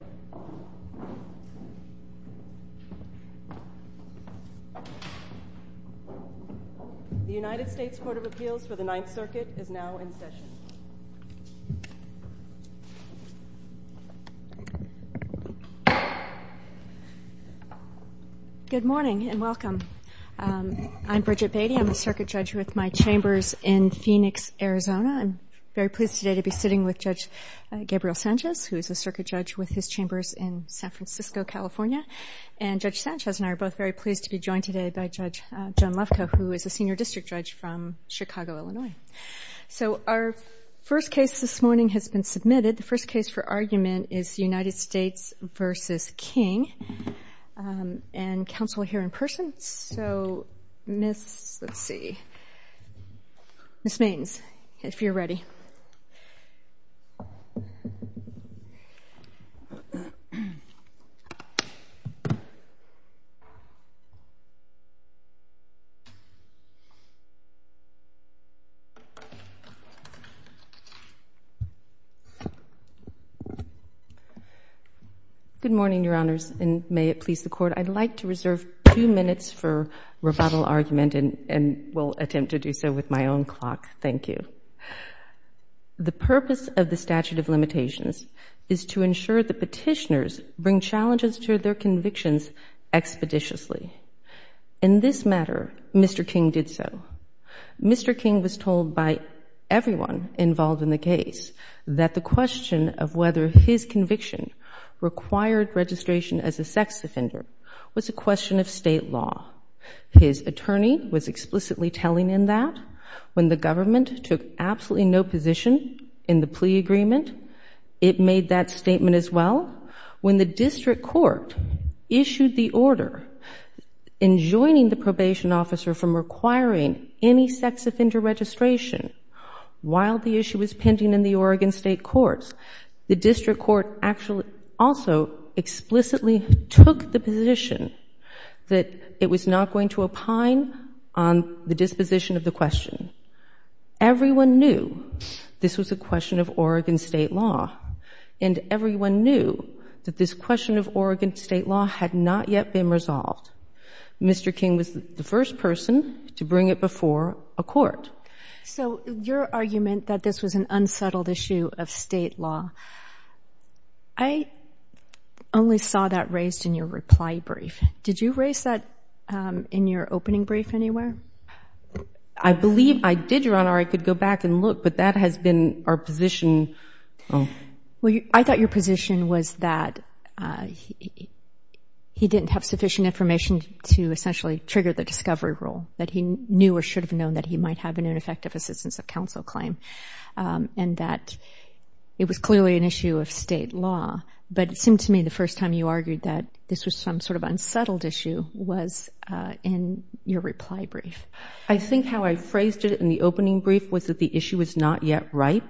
The United States Court of Appeals for the Ninth Circuit is now in session. Good morning and welcome. I'm Bridget Beatty. I'm a circuit judge with my chambers in Phoenix, Arizona. I'm very pleased today to be sitting with Judge Gabriel Sanchez, who is a circuit judge with his chambers in San Francisco, California. And Judge Sanchez and I are both very pleased to be joined today by Judge John Lefkoe, who is a senior district judge from Chicago, Illinois. So our first case this morning has been submitted. The first case for argument is United States v. King. And counsel will hear in person. So Ms. Mains, if you're ready. Good morning, Your Honors, and may it please the Court, I'd like to reserve two minutes for rebuttal argument and will attempt to do so with my own clock. Thank you. The purpose of the statute of limitations is to ensure the petitioners bring challenges to their convictions expeditiously. In this matter, Mr. King did so. Mr. King was told by everyone involved in the case that the question of whether his conviction required registration as a sex offender was a question of State law. His attorney was explicitly telling him that. When the government took absolutely no position in the plea agreement, it made that statement as well. When the district court issued the order enjoining the probation officer from requiring any sex offender registration while the issue was pending in the Oregon State courts, the district court also explicitly took the position that it was not going to opine on the disposition of the question. Everyone knew this was a question of Oregon State law. And everyone knew that this question of Oregon State law had not yet been resolved. Mr. King was the first person to bring it before a court. So your argument that this was an unsettled issue of State law, I only saw that raised in your reply brief. Did you raise that in your opening brief anywhere? I believe I did, Your Honor. I could go back and look, but that has been our position. I thought your position was that he didn't have sufficient information to essentially trigger the discovery rule, that he knew or should have known that he might have an ineffective assistance of counsel claim, and that it was clearly an issue of State law. But it seemed to me the first time you argued that this was some sort of unsettled issue was in your reply brief. I think how I phrased it in the opening brief was that the issue was not yet right.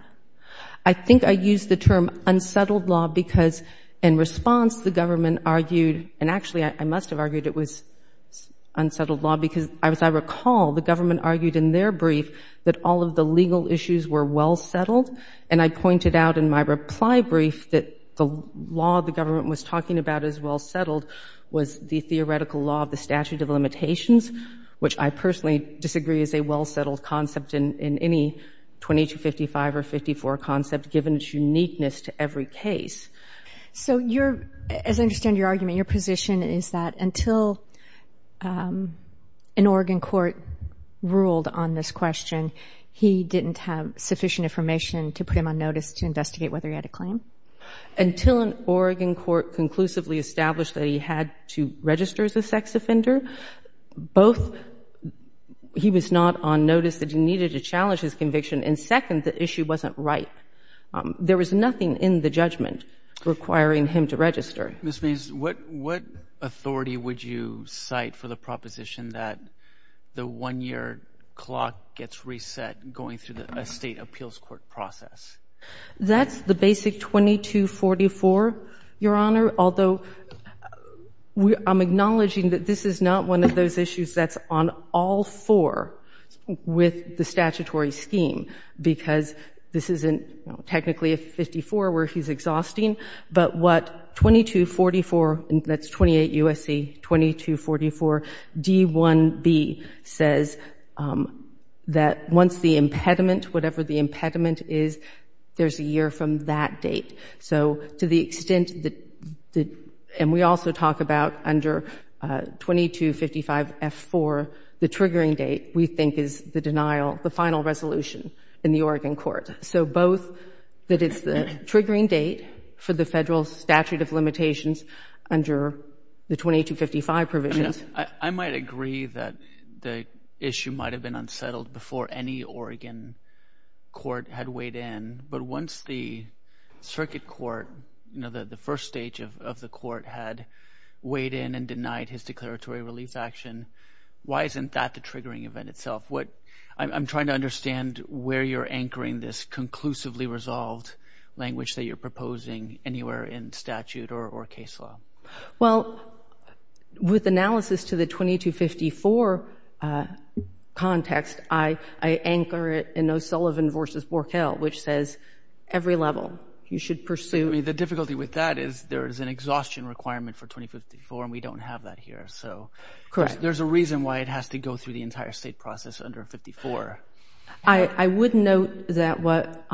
I think I used the term unsettled law because in response the government argued, and actually I must have argued it was unsettled law, because as I recall, the government argued in their brief that all of the legal issues were well settled. And I pointed out in my reply brief that the law the government was talking about as well settled was the theoretical law of the statute of limitations, which I personally disagree is a well settled concept in any 2255 or 54 concept given its uniqueness to every case. So as I understand your argument, your position is that until an Oregon court ruled on this question, he didn't have sufficient information to put him on notice to investigate whether he had a claim? Until an Oregon court conclusively established that he had to register as a sex offender, both he was not on notice that he needed to challenge his conviction, and second, the issue wasn't right. There was nothing in the judgment requiring him to register. Mr. Means, what authority would you cite for the proposition that the one-year clock gets reset going through a state appeals court process? That's the basic 2244, Your Honor, although I'm acknowledging that this is not one of those issues that's on all four with the statutory scheme because this isn't technically a 54 where he's exhausting, but what 2244, that's 28 U.S.C., 2244 D1B says that once the impediment, whatever the impediment is, there's a year from that date. So to the extent that, and we also talk about under 2255 F4, the triggering date we think is the denial, the final resolution in the Oregon court. So both that it's the triggering date for the federal statute of limitations under the 2255 provisions. I might agree that the issue might have been unsettled before any Oregon court had weighed in, but once the circuit court, the first stage of the court had weighed in and denied his declaratory relief action, why isn't that the triggering event itself? I'm trying to understand where you're anchoring this conclusively resolved language that you're proposing anywhere in statute or case law. Well, with analysis to the 2254 context, I anchor it in O'Sullivan v. Borkel, which says every level you should pursue. The difficulty with that is there is an exhaustion requirement for 2254 and we don't have that here. So there's a reason why it has to go through the entire state process under 54. I would note that what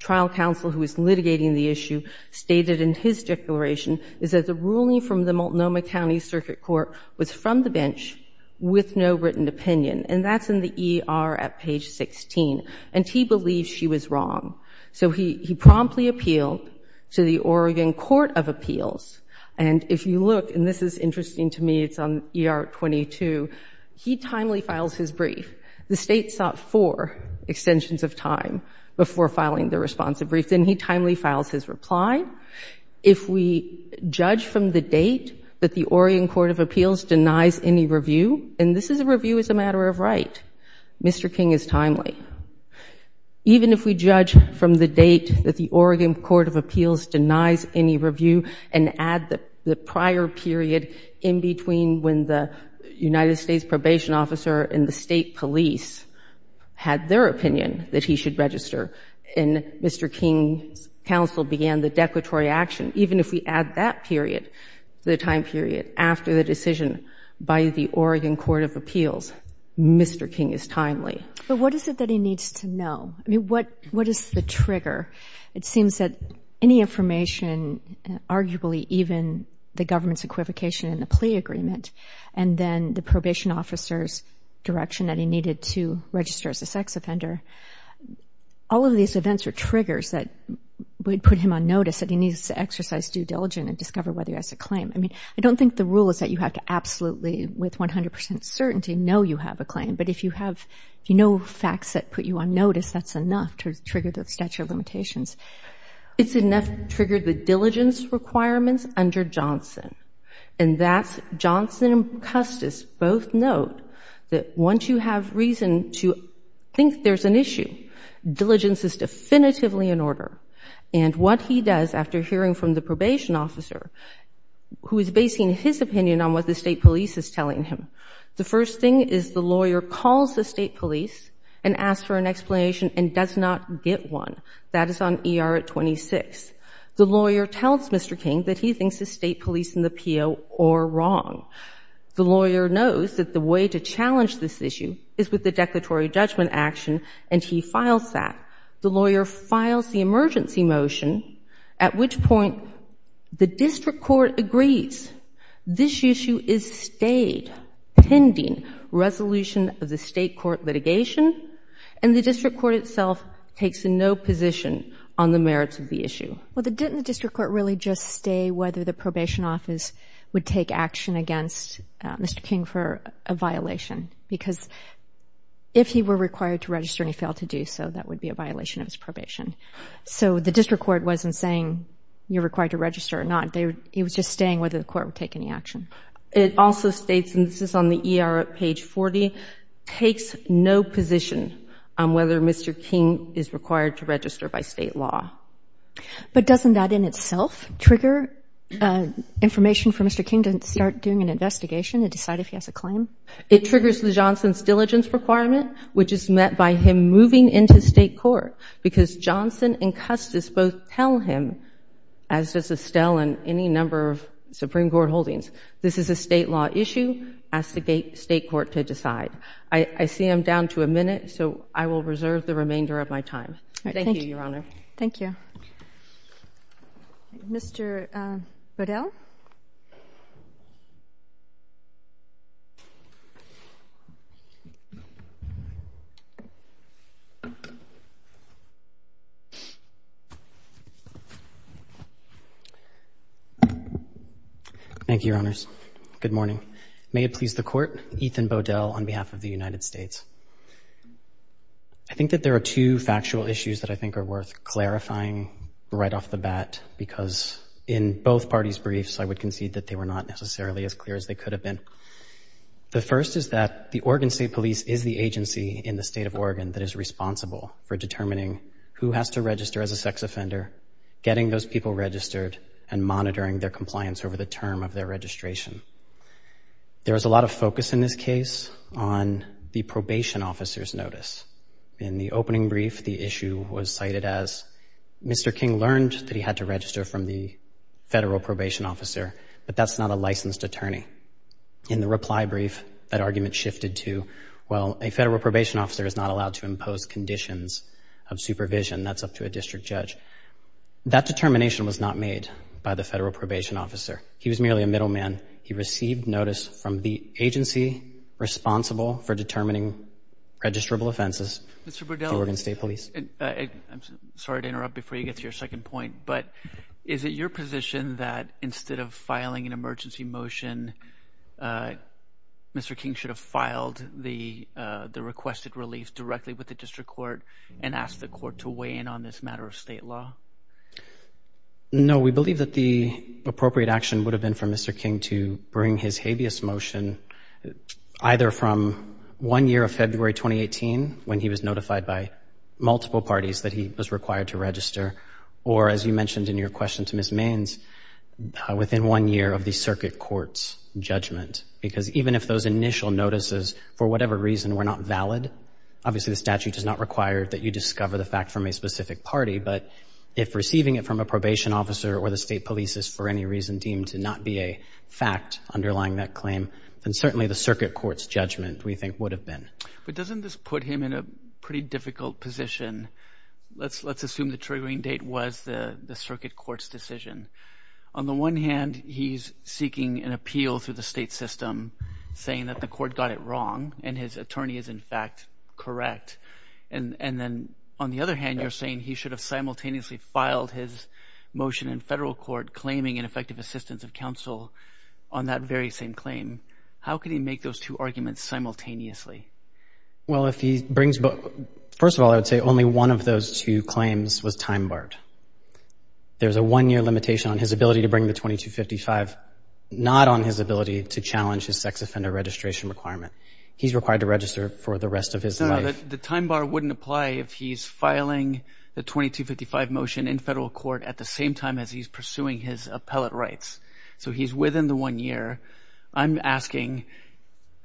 trial counsel who is litigating the issue stated in his declaration is that the ruling from the Multnomah County Circuit Court was from the bench with no written opinion and that's in the ER at page 16 and he believes she was wrong. So he promptly appealed to the Oregon Court of Appeals and if you look, and this is interesting to me, it's on ER 22, he timely files his brief. The state sought four extensions of time before filing the responsive brief. Then he timely files his reply. If we judge from the date that the Oregon Court of Appeals denies any review, and this is a review as a matter of fact, if the Oregon Court of Appeals denies any review and add the prior period in between when the United States Probation Officer and the state police had their opinion that he should register and Mr. King's counsel began the declaratory action, even if we add that period, the time period after the decision by the Oregon Court of Appeals, Mr. King is timely. But what is it that he needs to know? I mean, what is the trigger? It seems that any information, arguably even the government's equivocation in the plea agreement and then the probation officer's direction that he needed to register as a sex offender, all of these events are triggers that would put him on notice that he needs to exercise due diligence and discover whether he has a claim. I mean, I don't think the rule is that you have to absolutely, with no facts that put you on notice, that's enough to trigger the statute of limitations. It's enough to trigger the diligence requirements under Johnson, and that's Johnson and Custis both note that once you have reason to think there's an issue, diligence is definitively in order. And what he does after hearing from the probation officer, who is basing his opinion on what the state police is telling him, the first thing is the lawyer calls the state police and asks for an explanation and does not get one. That is on ER at 26. The lawyer tells Mr. King that he thinks the state police and the PO are wrong. The lawyer knows that the way to challenge this issue is with the declaratory judgment action, and he files that. The lawyer files the emergency motion, at which point the district court agrees. This issue is stayed pending resolution of the state court litigation, and the district court itself takes no position on the merits of the issue. Well, didn't the district court really just stay whether the probation office would take action against Mr. King for a violation? Because if he were required to register and he failed to do so, that would be a violation of his probation. So the district court wasn't saying you're required to register or not. It was just staying whether the court would take any action. It also states, and this is on the ER at page 40, takes no position on whether Mr. King is required to register by state law. But doesn't that in itself trigger information for Mr. King to start doing an investigation and decide if he has a claim? It triggers the Johnson's diligence requirement, which is met by him moving into state court, because Johnson and Custis both tell him, as does Estelle and any number of Supreme Court holdings, this is a state law issue, ask the state court to decide. I see I'm down to a minute, so I will reserve the remainder of my time. Thank you, Your Honor. Thank you. Mr. Bodell? Thank you, Your Honors. Good morning. May it please the court, Ethan Bodell on behalf of the United States. I think that there are two factual issues that I think are worth clarifying right off the bat, because in both parties' briefs, I would concede that they were not necessarily as clear as they could have been. The first is that the Oregon State Police is the agency in the state of Oregon that is responsible for determining who has to register as a sex offender, getting those people registered, and monitoring their compliance over the term of their registration. There is a lot of focus in this case on the probation officer's notice. In the opening brief, the issue was cited as, Mr. King learned that he had to register from the federal probation officer, but that's not a licensed attorney. In the reply brief, that argument shifted to, well, a federal probation officer is not allowed to impose conditions of supervision. That's up to a district judge. That determination was not made by the federal probation officer. He was merely a middleman. He received notice from the agency responsible for determining registrable offenses, the Oregon State Police. Mr. Bodell, I'm sorry to interrupt before you get to your second point, but is it your position that instead of filing an emergency motion, Mr. King should have filed the requested relief directly with the district court and asked the court to weigh in on this matter of state law? No, we believe that the appropriate action would have been for Mr. King to bring his habeas motion either from one year of February 2018, when he was notified by multiple parties that he was required to register, or as you mentioned in your question to Ms. Mains, within one year of the circuit court's judgment, because even if those initial notices, for Obviously, the statute does not require that you discover the fact from a specific party, but if receiving it from a probation officer or the state police is for any reason deemed to not be a fact underlying that claim, then certainly the circuit court's judgment, we think, would have been. But doesn't this put him in a pretty difficult position? Let's assume the triggering date was the circuit court's decision. On the one hand, he's seeking an appeal through the state system, saying that the court got it wrong, and his attorney is in fact correct. And then on the other hand, you're saying he should have simultaneously filed his motion in federal court claiming ineffective assistance of counsel on that very same claim. How could he make those two arguments simultaneously? Well, if he brings, first of all, I would say only one of those two claims was time barred. There's a one-year limitation on his ability to bring the 2255, not on his ability to challenge his sex offender registration requirement. He's required to register for the rest of his life. The time bar wouldn't apply if he's filing the 2255 motion in federal court at the same time as he's pursuing his appellate rights. So, he's within the one year. I'm asking,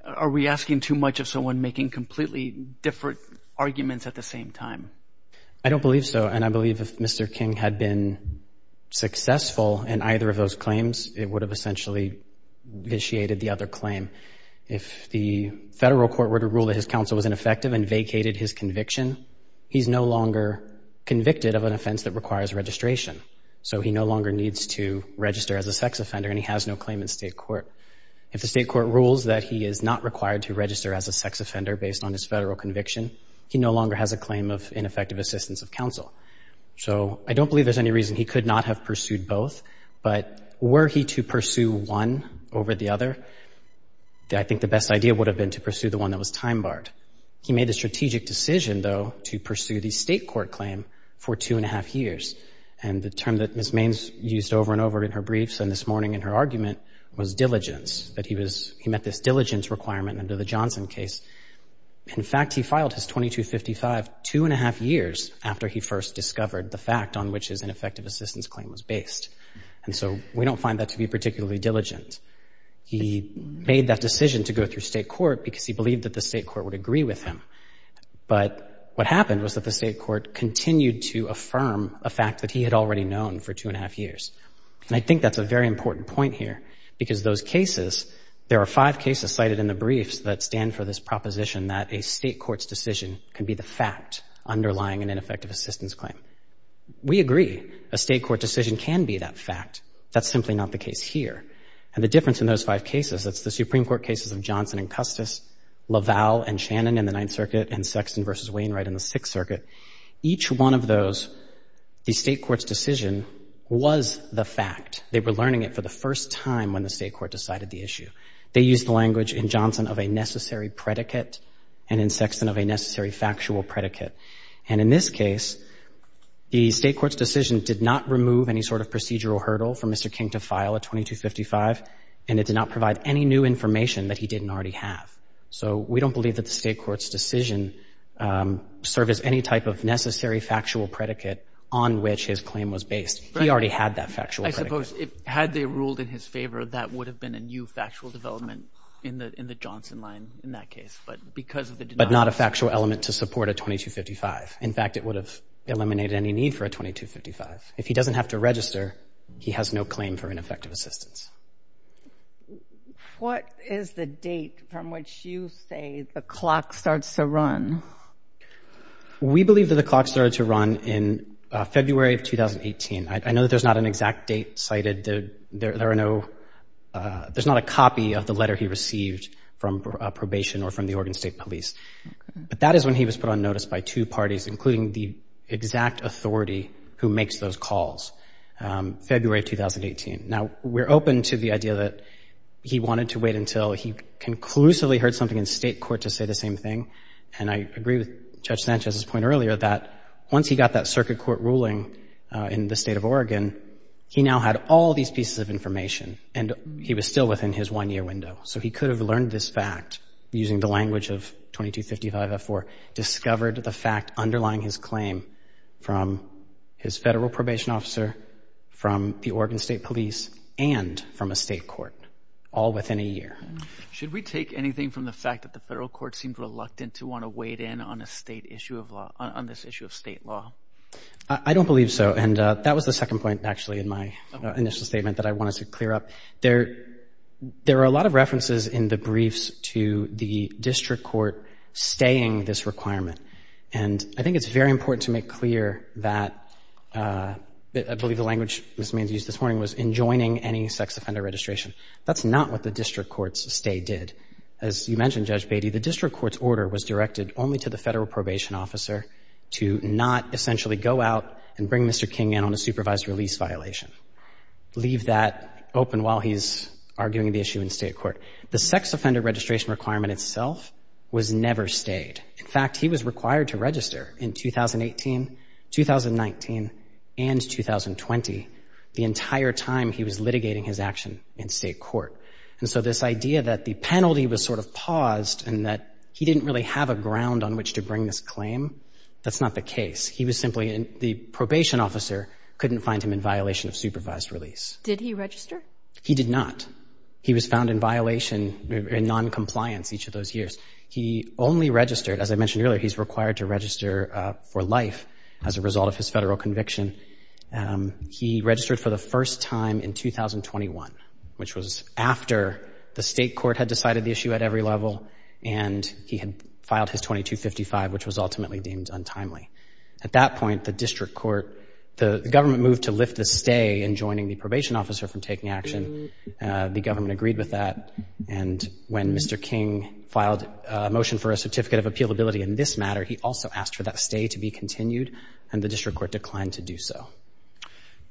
are we asking too much of someone making completely different arguments at the same time? I don't believe so, and I believe if Mr. King had been successful in either of those claims, it would have essentially initiated the other claim. If the federal court were to rule that his counsel was ineffective and vacated his conviction, he's no longer convicted of an offense that requires registration. So, he no longer needs to register as a sex offender and he has no claim in state court. If the state court rules that he is not required to register as a sex offender based on his federal conviction, he no longer has a claim of ineffective assistance of counsel. So, I don't believe there's any reason he could not have pursued both, but were he to pursue one over the other, I think the best idea would have been to pursue the one that was time barred. He made a strategic decision, though, to pursue the state court claim for two and a half years. And the term that Ms. Maines used over and over in her briefs and this morning in her argument was diligence, that he was, he met this diligence requirement under the Johnson case. In fact, he filed his 2255 two and a half years after he first discovered the fact on which his ineffective assistance claim was based. And so, we don't find that to be particularly diligent. He made that decision to go through state court because he believed that the state court would agree with him. But what happened was that the state court continued to affirm a fact that he had already known for two and a half years. And I think that's a very important point here because those cases, there are five cases cited in the briefs that stand for this proposition that a state court's decision can be the fact underlying an ineffective assistance claim. We agree a state court decision can be that fact. That's simply not the case here. And the difference in those five cases, that's the Supreme Court cases of Johnson and Custis, LaValle and Shannon in the Ninth Circuit, and Sexton versus Wainwright in the Sixth Circuit. Each one of those, the state court's decision was the fact. They were learning it for the first time when the state court decided the issue. They used the language in Johnson of a necessary predicate and in this case, the state court's decision did not remove any sort of procedural hurdle for Mr. King to file a 2255, and it did not provide any new information that he didn't already have. So we don't believe that the state court's decision served as any type of necessary factual predicate on which his claim was based. He already had that factual predicate. I suppose, had they ruled in his favor, that would have been a new factual development in the Johnson line in that case, but because of the denial. But not a factual element to support a 2255. In fact, it would have eliminated any need for a 2255. If he doesn't have to register, he has no claim for ineffective assistance. What is the date from which you say the clock starts to run? We believe that the clock started to run in February of 2018. I know that there's not an exact date cited. There are no, there's not a copy of the letter he received from probation or from the Oregon State Police. But that is when he was put on notice by two parties, including the exact authority who makes those calls, February of 2018. Now, we're open to the idea that he wanted to wait until he conclusively heard something in state court to say the same thing. And I agree with Judge Sanchez's point earlier that once he got that circuit court ruling in the state of Oregon, he now had all these pieces of information and he was still within his one year window. So he could have learned this fact using the language of 2255F4, discovered the fact underlying his claim from his federal probation officer, from the Oregon State Police, and from a state court, all within a year. Should we take anything from the fact that the federal court seemed reluctant to want to wade in on a state issue of law, on this issue of state law? I don't believe so. And that was the second point, actually, in my initial statement that I wanted to clear up. There are a lot of references in the briefs to the district court staying this requirement. And I think it's very important to make clear that, I believe the language Ms. Mains used this morning was enjoining any sex offender registration. That's not what the district court's stay did. As you mentioned, Judge Beatty, the district court's order was directed only to the federal probation officer to not essentially go out and bring Mr. King in on a supervised release violation. Leave that open while he's arguing the issue in state court. The sex offender registration requirement itself was never stayed. In fact, he was required to register in 2018, 2019, and 2020, the entire time he was litigating his action in state court. And so this idea that the penalty was sort of paused and that he didn't really have a ground on which to bring this claim, that's not the case. He was simply, the probation officer couldn't find him in violation of supervised release. Did he register? He did not. He was found in violation in noncompliance each of those years. He only registered, as I mentioned earlier, he's required to register for life as a result of his federal conviction. He registered for the first time in 2021, which was after the state court had decided the issue at every level and he had filed his 2255, which was ultimately deemed untimely. At that point, the district court, the government moved to lift the stay in joining the probation officer from taking action. The government agreed with that. And when Mr. King filed a motion for a certificate of appealability in this matter, he also asked for that stay to be continued and the district court declined to do so.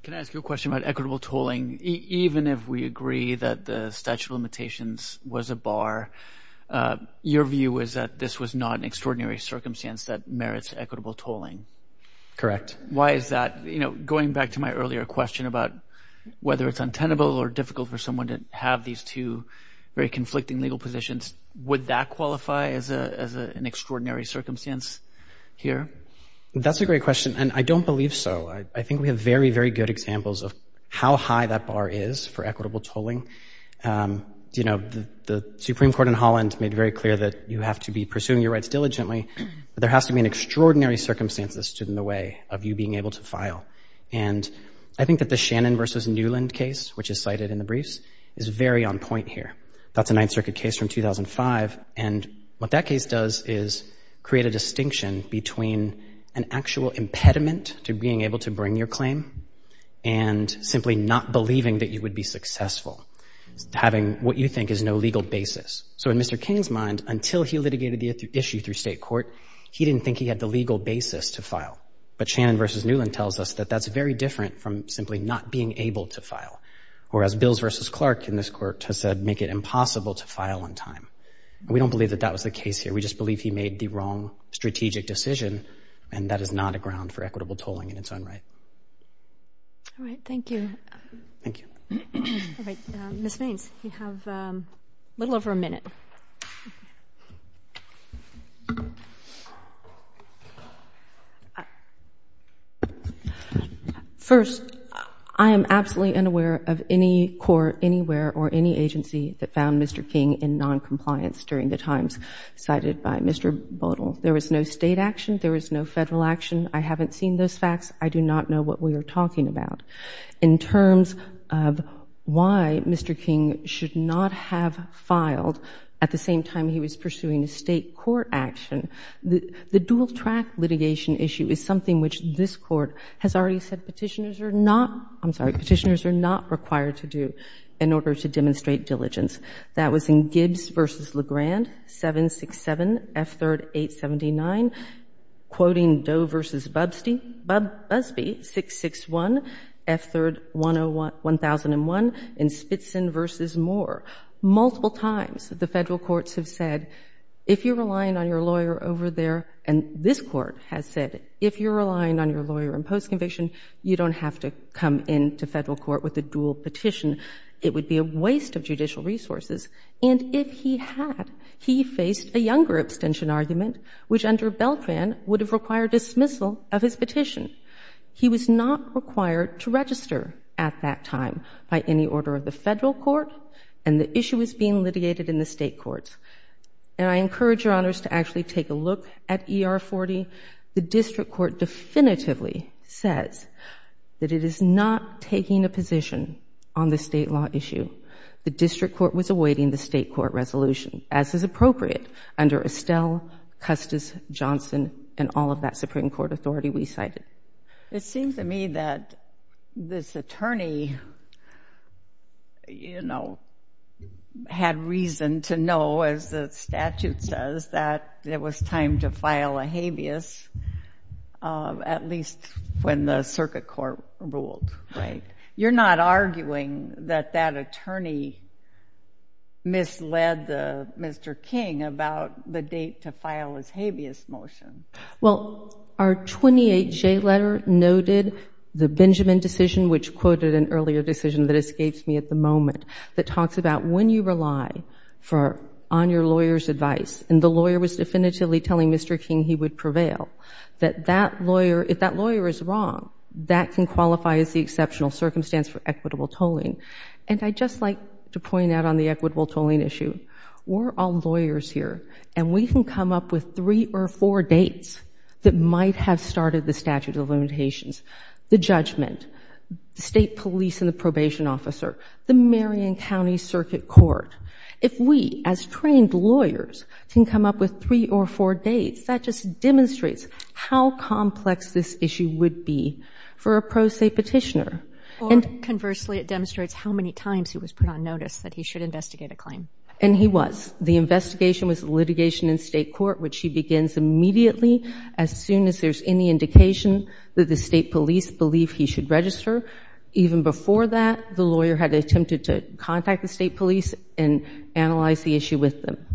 Can I ask you a question about equitable tooling? Even if we agree that the statute of limitations was a bar, your view is that this was not an extraordinary circumstance that merits equitable tolling. Correct. Why is that? You know, going back to my earlier question about whether it's untenable or difficult for someone to have these two very conflicting legal positions, would that qualify as an extraordinary circumstance here? That's a great question. And I don't believe so. I think we have very, very good examples of how high that bar is for equitable tolling. You know, the Supreme Court in Holland made very clear that you have to be pursuing your rights diligently, but there has to be an extraordinary circumstance that's stood in the way of you being able to file. And I think that the Shannon versus Newland case, which is cited in the briefs, is very on point here. That's a Ninth Circuit case from 2005. And what that case does is create a distinction between an actual impediment to being able to bring your claim and simply not believing that you would be successful, having what you think is no legal basis. So in Mr. King's mind, until he litigated the issue through state court, he didn't think he had the legal basis to file. But Shannon versus Newland tells us that that's very different from simply not being able to file. Or as Bills versus Clark in this court has said, make it impossible to file on time. We don't believe that that was the case here. We just believe he made the wrong strategic decision, and that is not a ground for equitable tolling in its own right. All right. Thank you. Thank you. All right. Ms. Vance, you have a little over a minute. First, I am absolutely unaware of any court anywhere or any agency that found Mr. King in noncompliance during the times cited by Mr. Bodle. There was no State action. There was no Federal action. I haven't seen those facts. I do not know what we are talking about. In terms of why Mr. King should not have filed at the same time he was pursuing a State court action, the dual-track litigation issue is something which this Court has already said petitioners are not, I'm sorry, petitioners are not required to do in order to demonstrate due diligence. That was in Gibbs v. Legrand, 767 F3rd 879, quoting Doe v. Busby, 661 F3rd 1001, and Spitzin v. Moore. Multiple times the Federal courts have said, if you are relying on your lawyer over there, and this Court has said, if you are relying on your lawyer in post-conviction, you don't have to come into Federal court with a dual petition. It would be a waste of judicial resources. And if he had, he faced a younger abstention argument, which under Beltran would have required dismissal of his petition. He was not required to register at that time by any order of the Federal court, and the issue is being litigated in the State courts. And I encourage Your Honors to actually take a look at ER 40. The District Court definitively says that it is not taking a position on the State law issue. The District Court was awaiting the State court resolution, as is appropriate, under Estelle, Custis, Johnson, and all of that Supreme Court authority we cited. It seems to me that this attorney, you know, had reason to know, as the statute says, that it was time to file a habeas, at least when the Circuit Court ruled. You're not arguing that that attorney misled Mr. King about the date to file his habeas motion. Well, our 28J letter noted the Benjamin decision, which quoted an earlier decision that escapes me at the moment, that talks about when you rely on your lawyer's advice, and the lawyer was definitively telling Mr. King he would prevail, that that lawyer, if that lawyer is wrong, that can qualify as the exceptional circumstance for equitable tolling. And I'd just like to point out on the equitable tolling issue, we're all lawyers here, and we can come up with three or four dates that might have started the statute of limitations. The judgment, the State police and the probation officer, the Marion County Circuit Court. If we, as trained lawyers, can come up with three or four dates, that just demonstrates how complex this issue would be for a pro se petitioner. Or conversely, it demonstrates how many times he was put on notice that he should investigate a claim. And he was. The investigation was litigation in State court, which he begins immediately as soon as there's any indication that the State police believe he should register. Even before that, the lawyer had attempted to contact the State police and analyze the issue with them.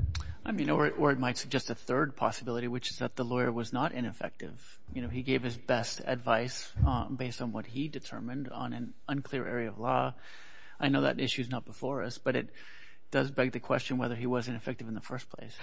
I mean, or it might suggest a third possibility, which is that the lawyer was not ineffective. You know, he gave his best advice based on what he determined on an unclear area of law. I know that issue is not before us, but it does beg the question whether he was ineffective in the first place.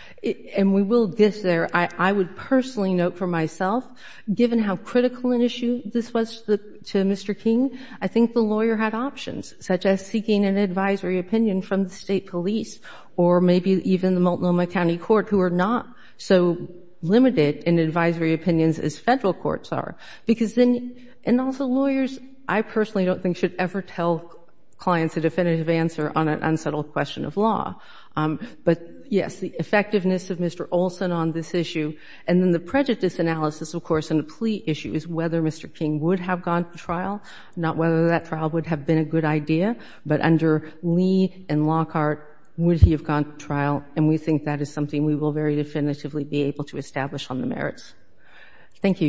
And we will get there. I would personally note for myself, given how critical an issue this was to Mr. King, I think the lawyer had options, such as seeking an advisory opinion from the State police, or maybe even the Multnomah County Court, who are not so limited in advisory opinions as Federal courts are. Because then, and also lawyers, I personally don't think should ever tell clients a definitive answer on an unsettled question of law. But yes, the effectiveness of Mr. Olson on this issue is whether Mr. King would have gone to trial, not whether that trial would have been a good idea. But under Lee and Lockhart, would he have gone to trial? And we think that is something we will very definitively be able to establish on the merits. Thank you, Your Honor.